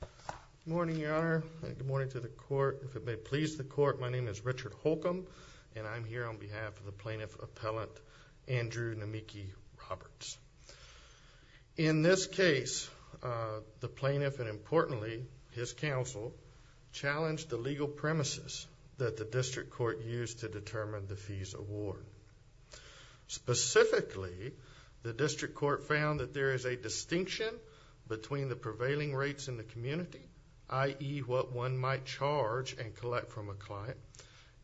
Good morning, Your Honor, and good morning to the Court. If it may please the Court, my name is Richard Holcomb, and I'm here on behalf of the Plaintiff Appellant Andrew Namiki Roberts. In this case, the Plaintiff and, importantly, his counsel, challenged the legal premises that the District Court used to determine the fees award. Specifically, the District Court found that there is a distinction between the prevailing rates in the community, i.e., what one might charge and collect from a client,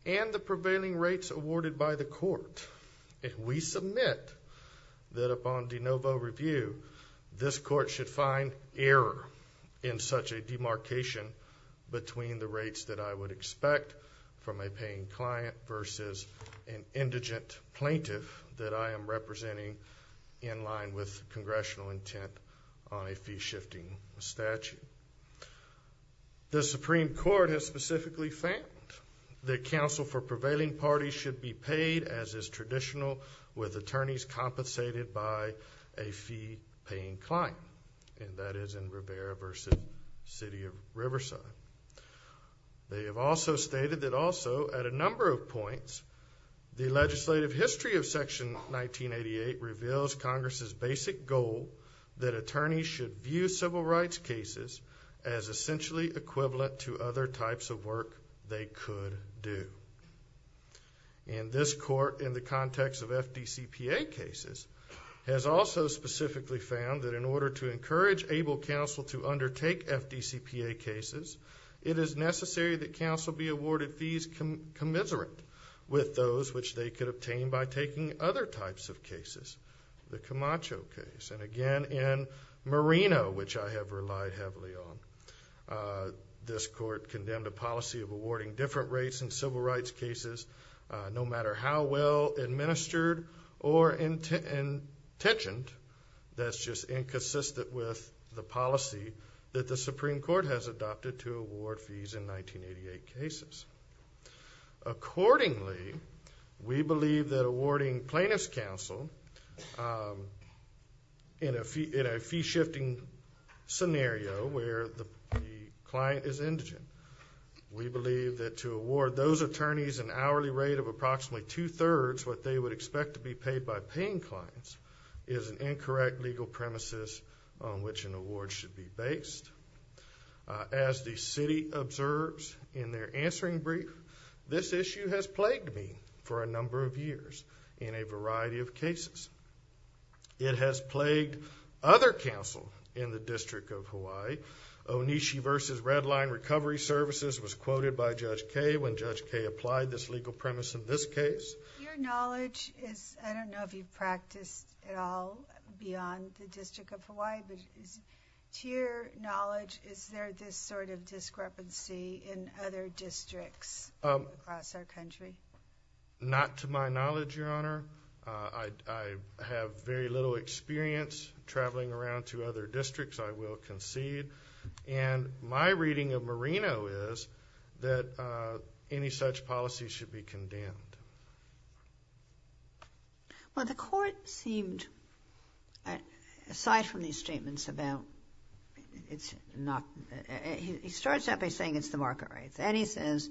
and the prevailing rates awarded by the Court. We submit that upon de novo review, this Court should find error in such a demarcation between the rates that I would expect from a paying client versus an indigent plaintiff that I am representing in line with Congressional intent on a fee-shifting statute. The Supreme Court has specifically found that counsel for prevailing parties should be paid, as is traditional with attorneys compensated by a fee-paying client, and that is in Rivera v. City of Riverside. They have also stated that also, at a number of points, the legislative history of Section 1988 reveals Congress's basic goal that attorneys should view civil rights cases as essentially equivalent to other types of work they could do. And this Court, in the context of FDCPA cases, has also specifically found that in order to encourage able counsel to undertake FDCPA cases, it is necessary that counsel be awarded fees commiserate with those which they could obtain by taking other types of cases. The Camacho case, and again in Moreno, which I have relied heavily on. This Court condemned a policy of awarding different rates in civil rights cases, no matter how well administered or intentioned. That's just inconsistent with the policy that the Supreme Court has adopted to award fees in 1988 cases. Accordingly, we believe that awarding plaintiff's counsel, in a fee-shifting scenario where the client is indigent, we believe that to award those attorneys an hourly rate of approximately two-thirds what they would expect to be paid by paying clients is an incorrect legal premises on which an award should be based. As the City observes in their answering brief, this issue has plagued me for a number of years in a variety of cases. It has plagued other counsel in the District of Hawaii. Onishi v. Redline Recovery Services was quoted by Judge Kaye when Judge Kaye applied this legal premise in this case. Your knowledge is, I don't know if you practiced at all beyond the District of Hawaii, but to your knowledge, is there this sort of discrepancy in other districts across our country? Not to my knowledge, Your Honor. I have very little experience traveling around to other districts, I will concede. And my reading of Marino is that any such policy should be condemned. Well, the Court seemed, aside from these statements about it's not, he starts out by saying it's the market rates, and he says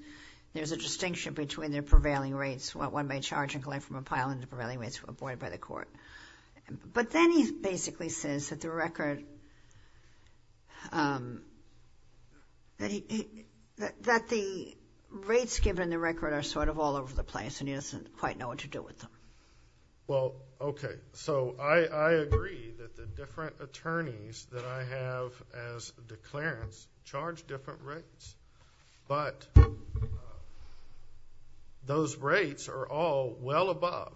there's a distinction between the prevailing rates, what one may charge and collect from a pile, and the prevailing rates avoided by the Court. But then he basically says that the record, that the rates given in the record are sort of all over the place, and he doesn't quite know what to do with them. Well, okay. So I agree that the different attorneys that I have as declarants charge different rates, but those rates are all well above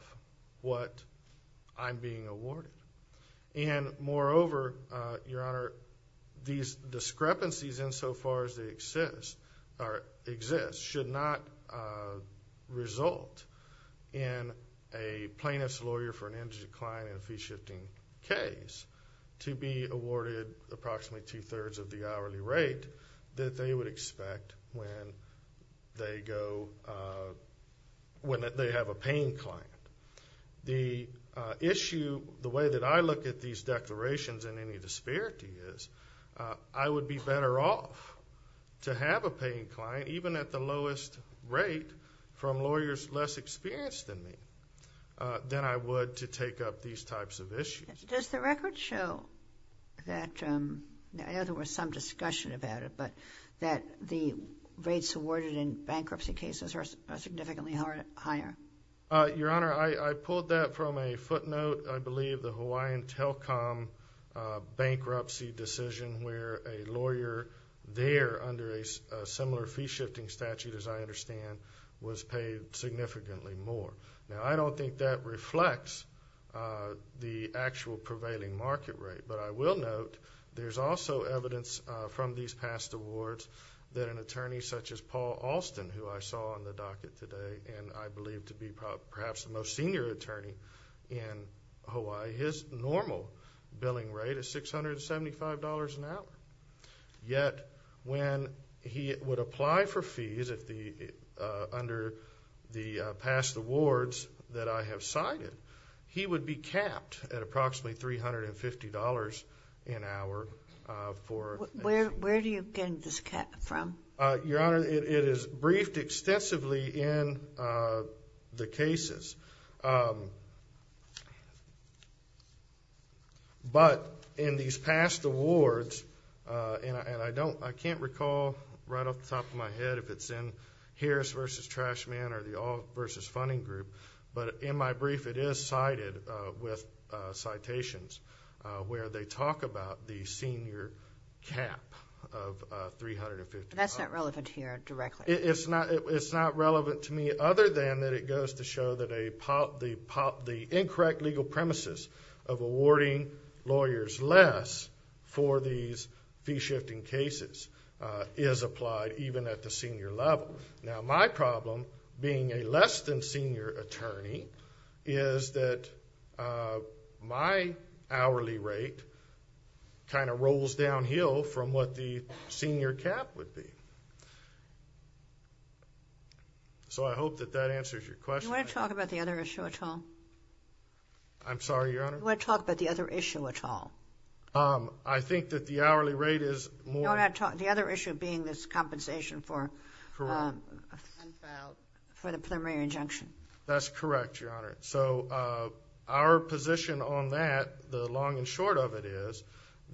what I'm being awarded. And moreover, Your Honor, these discrepancies, insofar as they exist, should not result in a plaintiff's lawyer for an energy decline in a fee-shifting case to be awarded approximately two-thirds of the hourly rate that they would expect when they go, when they have a paying client. The issue, the way that I look at these declarations in any disparity is, I would be better off to have a paying client, even at the lowest rate from lawyers less experienced than me, than I would to take up these types of issues. Does the record show that, I know there was some discussion about it, but that the rates awarded in bankruptcy cases are significantly higher? Your Honor, I pulled that from a footnote, I believe, the Hawaiian Telcom bankruptcy decision, where a lawyer there under a similar fee-shifting statute, as I understand, was paid significantly more. Now, I don't think that reflects the actual prevailing market rate, but I will note there's also evidence from these past awards that an attorney such as Paul Alston, who I saw on the docket today and I believe to be perhaps the most senior attorney in Hawaii, his normal billing rate is $675 an hour. Yet, when he would apply for fees under the past awards that I have cited, he would be capped at approximately $350 an hour. Where do you get this from? Your Honor, it is briefed extensively in the cases. But in these past awards, and I can't recall right off the top of my head if it's in Harris v. Trashman or the All v. Funding Group, but in my brief it is cited with citations where they talk about the senior cap of $350. That's not relevant here directly. It's not relevant to me other than that it goes to show that the incorrect legal premises of awarding lawyers less for these fee-shifting cases is applied even at the senior level. Now, my problem, being a less than senior attorney, is that my hourly rate kind of rolls downhill from what the senior cap would be. So I hope that that answers your question. Do you want to talk about the other issue at all? I'm sorry, Your Honor? Do you want to talk about the other issue at all? I think that the hourly rate is more. The other issue being this compensation for the preliminary injunction. That's correct, Your Honor. So our position on that, the long and short of it is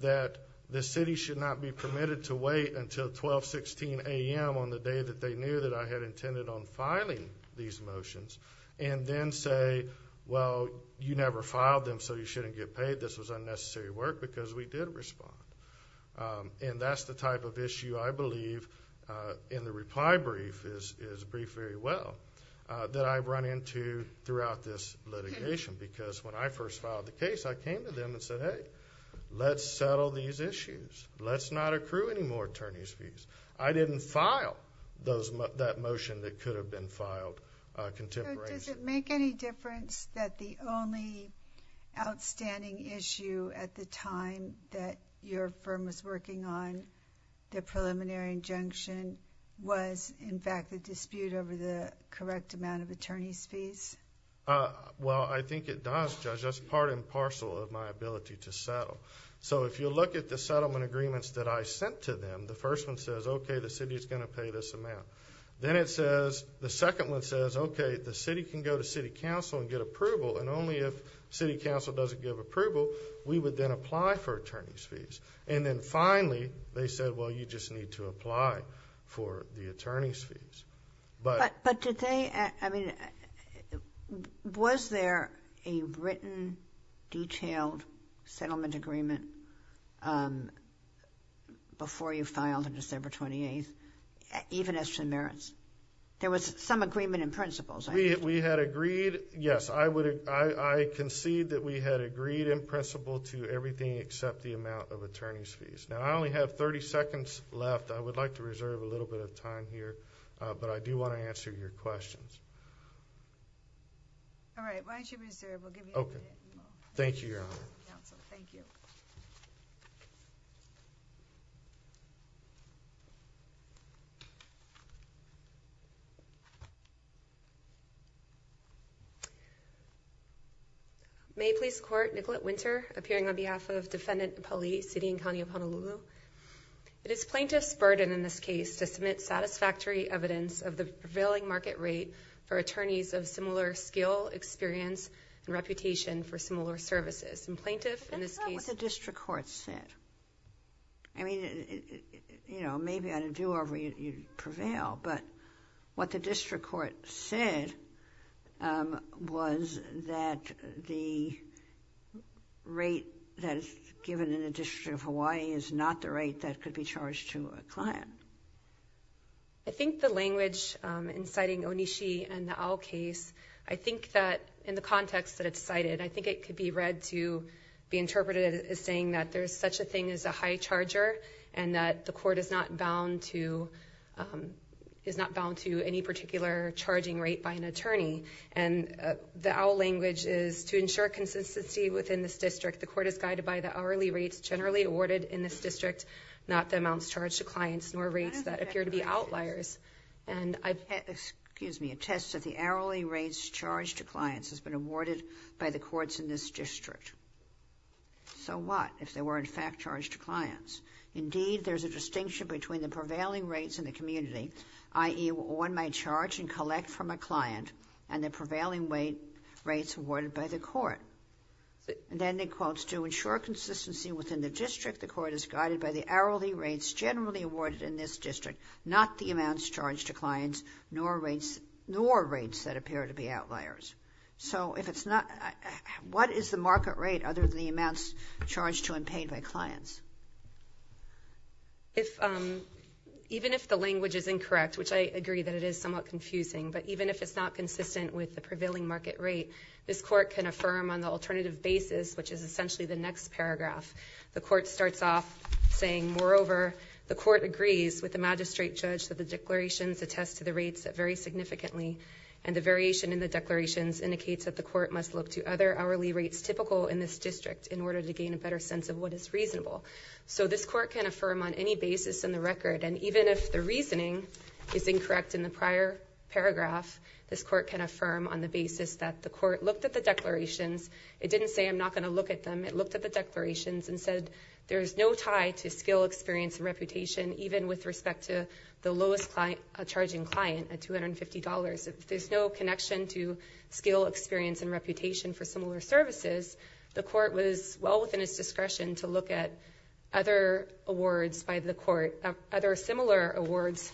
that the city should not be permitted to wait until 12-16 a.m. on the day that they knew that I had intended on filing these motions and then say, well, you never filed them so you shouldn't get paid. This was unnecessary work because we did respond. And that's the type of issue I believe in the reply brief is briefed very well. That I run into throughout this litigation because when I first filed the case, I came to them and said, hey, let's settle these issues. Let's not accrue any more attorney's fees. I didn't file that motion that could have been filed contemporaneously. Does it make any difference that the only outstanding issue at the time that your firm was working on, the preliminary injunction, was, in fact, the dispute over the correct amount of attorney's fees? Well, I think it does, Judge. That's part and parcel of my ability to settle. So if you look at the settlement agreements that I sent to them, the first one says, okay, the city is going to pay this amount. Then it says, the second one says, okay, the city can go to city council and get approval. And only if city council doesn't give approval, we would then apply for attorney's fees. And then finally, they said, well, you just need to apply for the attorney's fees. But did they, I mean, was there a written, detailed settlement agreement before you filed on December 28th, even as to merits? There was some agreement in principles. We had agreed, yes. I concede that we had agreed in principle to everything except the amount of attorney's fees. Now, I only have 30 seconds left. I would like to reserve a little bit of time here, but I do want to answer your questions. All right, why don't you reserve? We'll give you a minute. Thank you, Your Honor. Thank you. May I please court Nicolette Winter, appearing on behalf of Defendant Pali, city and county of Honolulu. It is plaintiff's burden in this case to submit satisfactory evidence of the prevailing market rate for attorneys of similar skill, experience, and reputation for similar services. And plaintiff in this case. That's not what the district court said. I mean, you know, maybe on a do-over you prevail, but what the district court said was that the rate that is given in the District of Hawaii is not the rate that could be charged to a client. I think the language inciting Onishi and the owl case. I think that in the context that it's cited, I think it could be read to be interpreted as saying that there's such a thing as a high charger and that the court is not bound to is not bound to any particular charging rate by an attorney. And the owl language is to ensure consistency within this district. The court is guided by the hourly rates generally awarded in this district, not the amounts charged to clients, nor rates that appear to be outliers. And I, excuse me, a test of the hourly rates charged to clients has been awarded by the courts in this district. So what if they were in fact charged to clients? Indeed, there's a distinction between the prevailing rates in the community, i.e. one might charge and collect from a client and the prevailing weight rates awarded by the court. And then it quotes, to ensure consistency within the district, the court is guided by the hourly rates generally awarded in this district, not the amounts charged to clients, nor rates that appear to be outliers. So if it's not, what is the market rate other than the amounts charged to and paid by clients? If, even if the language is incorrect, which I agree that it is somewhat confusing, but even if it's not consistent with the prevailing market rate, this court can affirm on the alternative basis, which is essentially the next paragraph. The court starts off saying, moreover, the court agrees with the magistrate judge that the declarations attest to the rates that vary significantly. And the variation in the declarations indicates that the court must look to other hourly rates typical in this district in order to gain a better sense of what is reasonable. So this court can affirm on any basis in the record. And even if the reasoning is incorrect in the prior paragraph, this court can affirm on the basis that the court looked at the declarations. It didn't say, I'm not going to look at them. It looked at the declarations and said, there's no tie to skill, experience, and reputation, even with respect to the lowest charging client at $250. There's no connection to skill, experience, and reputation for similar services. The court was well within its discretion to look at other awards by the court, other similar awards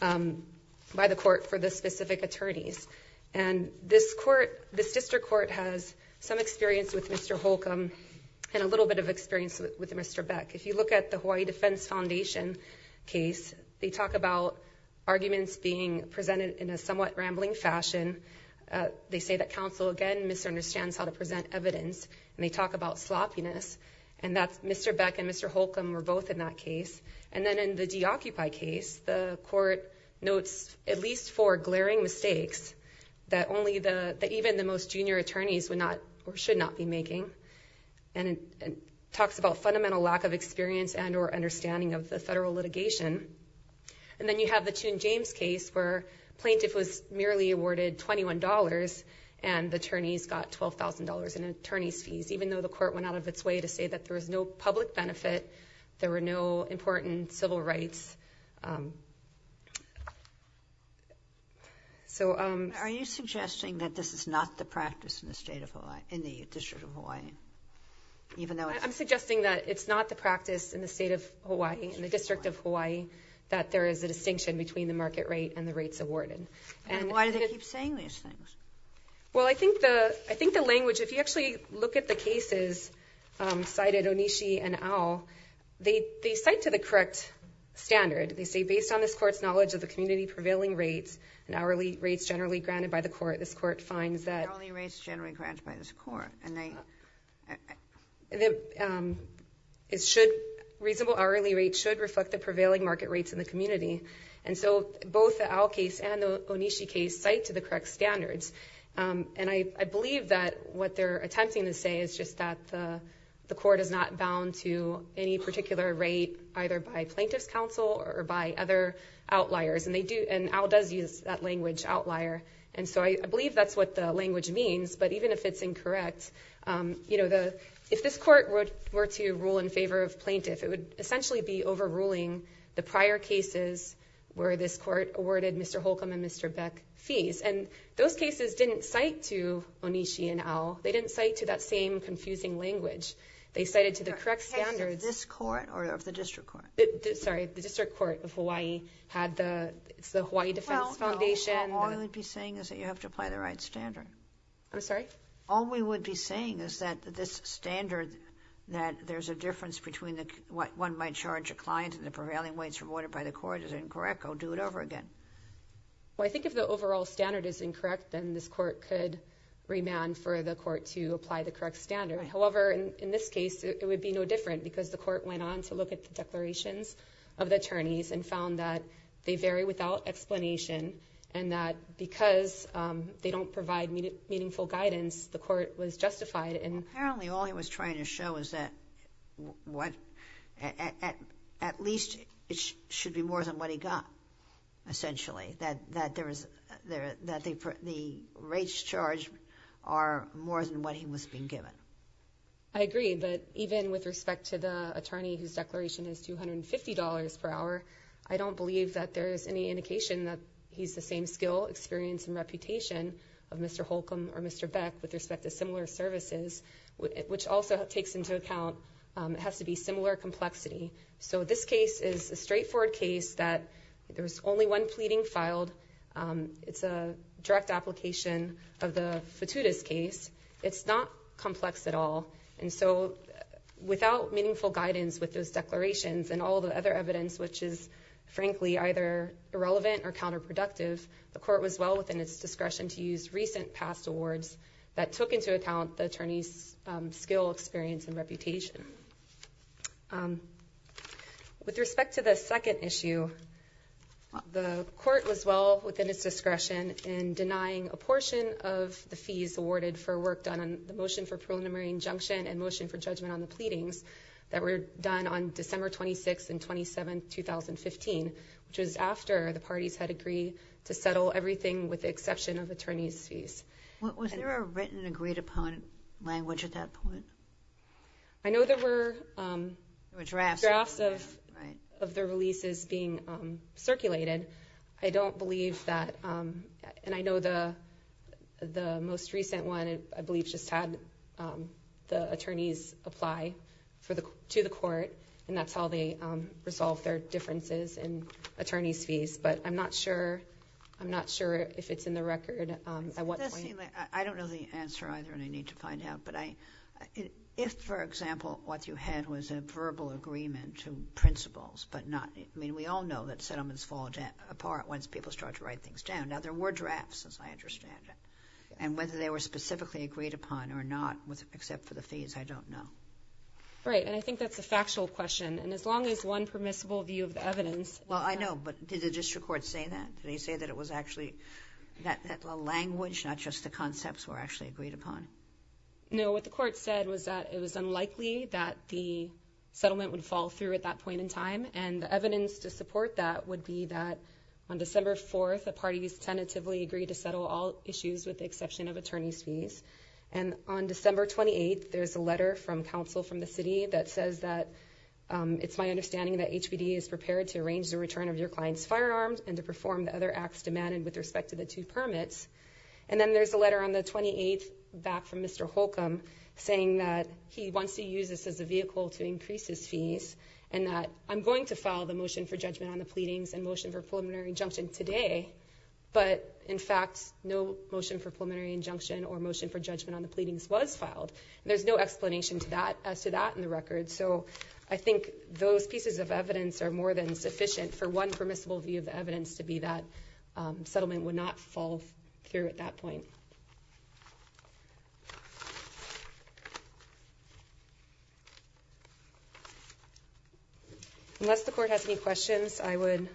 by the court for the specific attorneys. And this court, this district court has some experience with Mr. Holcomb and a little bit of experience with Mr. Beck. If you look at the Hawaii Defense Foundation case, they talk about arguments being presented in a somewhat rambling fashion. They say that counsel, again, misunderstands how to present evidence. And they talk about sloppiness. And Mr. Beck and Mr. Holcomb were both in that case. And then in the DeOccupy case, the court notes at least four glaring mistakes that even the most junior attorneys should not be making. And it talks about fundamental lack of experience and or understanding of the federal litigation. And then you have the Tune James case where a plaintiff was merely awarded $21 and the attorneys got $12,000 in attorney's fees, even though the court went out of its way to say that there was no public benefit, there were no important civil rights. So... Are you suggesting that this is not the practice in the State of Hawaii, in the District of Hawaii, even though it's... I'm suggesting that it's not the practice in the State of Hawaii, in the District of Hawaii, that there is a distinction between the market rate and the rates awarded. And why do they keep saying these things? Well, I think the language... If you actually look at the cases cited, Onishi and Au, they cite to the correct standard. They say, based on this court's knowledge of the community prevailing rates and hourly rates generally granted by the court, this court finds that... Reasonable hourly rates should reflect the prevailing market rates in the community. And so both the Au case and the Onishi case cite to the correct standards. And I believe that what they're attempting to say is just that the court is not bound to any particular rate, either by plaintiff's counsel or by other outliers. And Au does use that language, outlier. And so I believe that's what the language means. But even if it's incorrect, if this court were to rule in favor of plaintiff, it would essentially be overruling the prior cases where this court awarded Mr. Holcomb and Mr. Beck fees. And those cases didn't cite to Onishi and Au. They didn't cite to that same confusing language. They cited to the correct standards. The case of this court or of the District Court? Sorry, the District Court of Hawaii had the Hawaii Defense Foundation. All we would be saying is that you have to apply the right standard. I'm sorry? All we would be saying is that this standard, that there's a difference between what one might charge a client and the prevailing rates awarded by the court is incorrect. I'll do it over again. Well, I think if the overall standard is incorrect, then this court could remand for the court to apply the correct standard. However, in this case, it would be no different because the court went on to look at the declarations of the attorneys and found that they vary without explanation and that because they don't provide meaningful guidance, the court was justified. Apparently, all he was trying to show is that at least it should be more than what he got, essentially, that the rates charged are more than what he was being given. I agree, but even with respect to the attorney whose declaration is $250 per hour, I don't believe that there is any indication that he's the same skill, experience, and reputation of Mr. Holcomb or Mr. Beck with respect to similar services, which also takes into account it has to be similar complexity. So this case is a straightforward case that there was only one pleading filed. It's a direct application of the Futuda's case. It's not complex at all. And so without meaningful guidance with those declarations and all the other evidence, which is frankly either irrelevant or counterproductive, the court was well within its discretion to use recent past awards that took into account the attorney's skill, experience, and reputation. With respect to the second issue, the court was well within its discretion in denying a portion of the fees awarded for work done on the motion for preliminary injunction and motion for judgment on the pleadings that were done on December 26 and 27, 2015, which was after the parties had agreed to settle everything with the exception of attorney's fees. Was there a written agreed-upon language at that point? I know there were drafts of the releases being circulated. I don't believe that. And I know the most recent one, I believe, just had the attorneys apply to the court, and that's how they resolved their differences in attorney's fees. But I'm not sure if it's in the record at what point. I don't know the answer either, and I need to find out. But if, for example, what you had was a verbal agreement to principles, but not – I mean, we all know that settlements fall apart once people start to write things down. Now, there were drafts, as I understand it. And whether they were specifically agreed upon or not, except for the fees, I don't know. Right. And I think that's a factual question. And as long as one permissible view of the evidence – Well, I know. But did the district court say that? Did they say that it was actually – that the language, not just the concepts, were actually agreed upon? No. What the court said was that it was unlikely that the settlement would fall through at that point in time. And the evidence to support that would be that on December 4th, the parties tentatively agreed to settle all issues with the exception of attorney's fees. And on December 28th, there's a letter from counsel from the city that says that it's my understanding that HPD is prepared to arrange the return of your client's firearms and to perform the other acts demanded with respect to the two permits. And then there's a letter on the 28th back from Mr. Holcomb saying that he wants to use this as a vehicle to increase his fees and that I'm going to file the motion for judgment on the pleadings and motion for preliminary injunction today. But, in fact, no motion for preliminary injunction or motion for judgment on the pleadings was filed. And there's no explanation to that – as to that in the record. So I think those pieces of evidence are more than sufficient for one permissible view of the evidence to be that settlement would not fall through at that point. Unless the court has any questions, I would,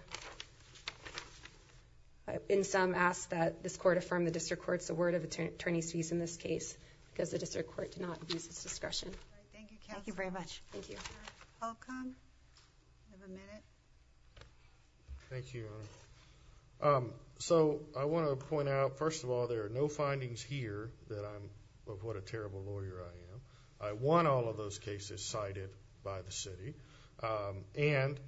in sum, ask that this court affirm the district court's word of attorney's fees in this case because the district court did not abuse its discretion. Thank you, counsel. Thank you very much. Thank you. Mr. Holcomb, you have a minute. Thank you, Your Honor. So I want to point out, first of all, there are no findings here that I'm – of what a terrible lawyer I am. I want all of those cases cited by the city. And,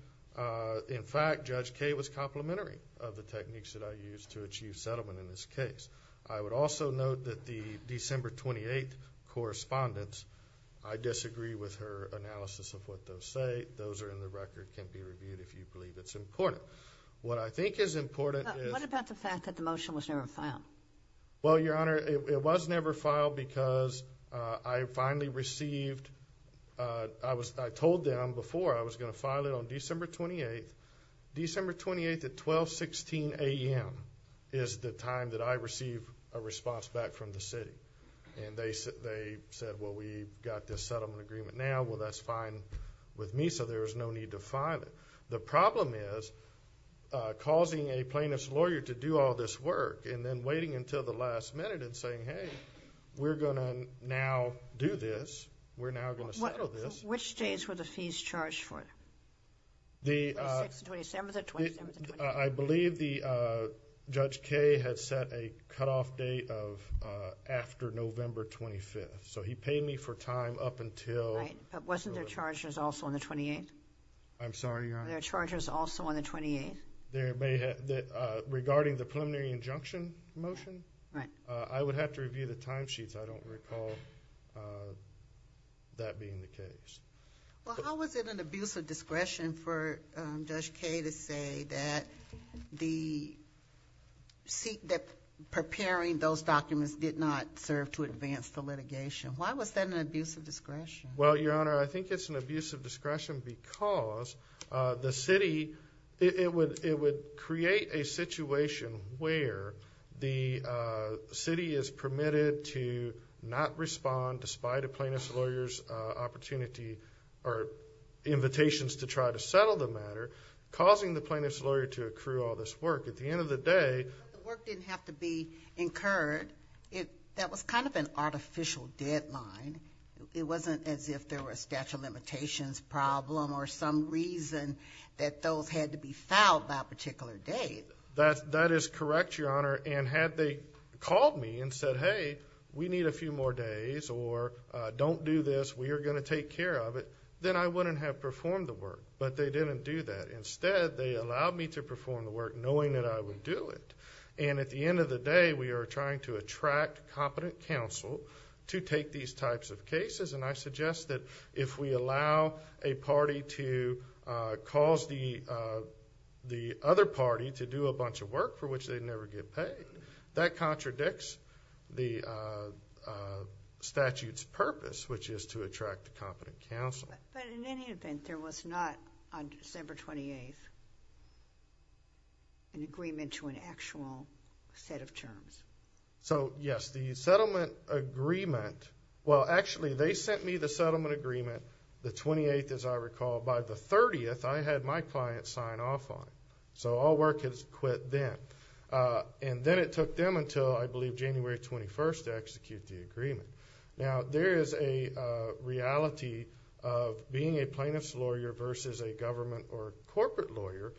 in fact, Judge Kaye was complimentary of the techniques that I used to achieve settlement in this case. I would also note that the December 28th correspondence, I disagree with her analysis of what those say. Those are in the record, can be reviewed if you believe it's important. What I think is important is – What about the fact that the motion was never filed? Well, Your Honor, it was never filed because I finally received – I told them before I was going to file it on December 28th. December 28th at 1216 a.m. is the time that I receive a response back from the city. And they said, well, we've got this settlement agreement now. Well, that's fine with me, so there's no need to file it. The problem is causing a plaintiff's lawyer to do all this work and then waiting until the last minute and saying, hey, we're going to now do this. We're now going to settle this. Which days were the fees charged for? The – 26th and 27th or 27th and 28th? I believe the – Judge Kaye had set a cutoff date of after November 25th. So he paid me for time up until – Right, but wasn't there charges also on the 28th? I'm sorry, Your Honor? Were there charges also on the 28th? There may have – regarding the preliminary injunction motion? Right. I would have to review the timesheets. I don't recall that being the case. Well, how was it an abuse of discretion for Judge Kaye to say that the – that preparing those documents did not serve to advance the litigation? Why was that an abuse of discretion? Well, Your Honor, I think it's an abuse of discretion because the city – it would create a situation where the city is permitted to not respond, despite a plaintiff's lawyer's opportunity or invitations to try to settle the matter, causing the plaintiff's lawyer to accrue all this work. At the end of the day – But the work didn't have to be incurred. That was kind of an artificial deadline. It wasn't as if there were a statute of limitations problem or some reason that those had to be filed by a particular date. That is correct, Your Honor. And had they called me and said, hey, we need a few more days or don't do this, we are going to take care of it, then I wouldn't have performed the work. But they didn't do that. Instead, they allowed me to perform the work knowing that I would do it. And at the end of the day, we are trying to attract competent counsel to take these types of cases, and I suggest that if we allow a party to cause the other party to do a bunch of work for which they never get paid, that contradicts the statute's purpose, which is to attract competent counsel. But in any event, there was not, on December 28th, an agreement to an actual set of terms. So, yes. The settlement agreement – well, actually, they sent me the settlement agreement the 28th, as I recall. By the 30th, I had my client sign off on it. So all work has quit then. And then it took them until, I believe, January 21st to execute the agreement. Now, there is a reality of being a plaintiff's lawyer versus a government or corporate lawyer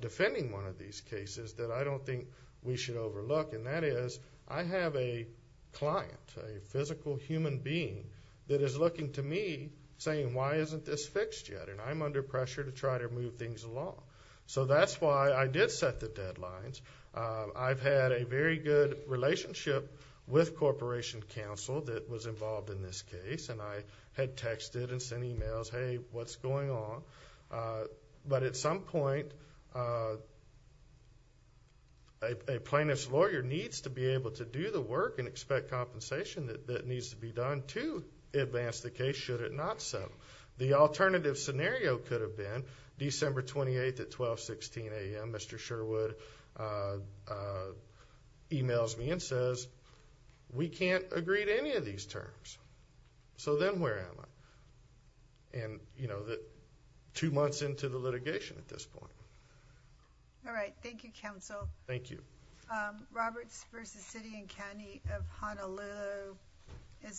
defending one of these cases that I don't think we should overlook, and that is I have a client, a physical human being that is looking to me saying, why isn't this fixed yet, and I'm under pressure to try to move things along. So that's why I did set the deadlines. I've had a very good relationship with corporation counsel that was involved in this case, and I had texted and sent emails, hey, what's going on? But at some point, a plaintiff's lawyer needs to be able to do the work and expect compensation that needs to be done to advance the case, should it not so. The alternative scenario could have been December 28th at 1216 a.m., and Mr. Sherwood emails me and says, we can't agree to any of these terms. So then where am I? And, you know, two months into the litigation at this point. All right. Thank you, counsel. Thank you. Roberts v. City and County of Honolulu is submitted.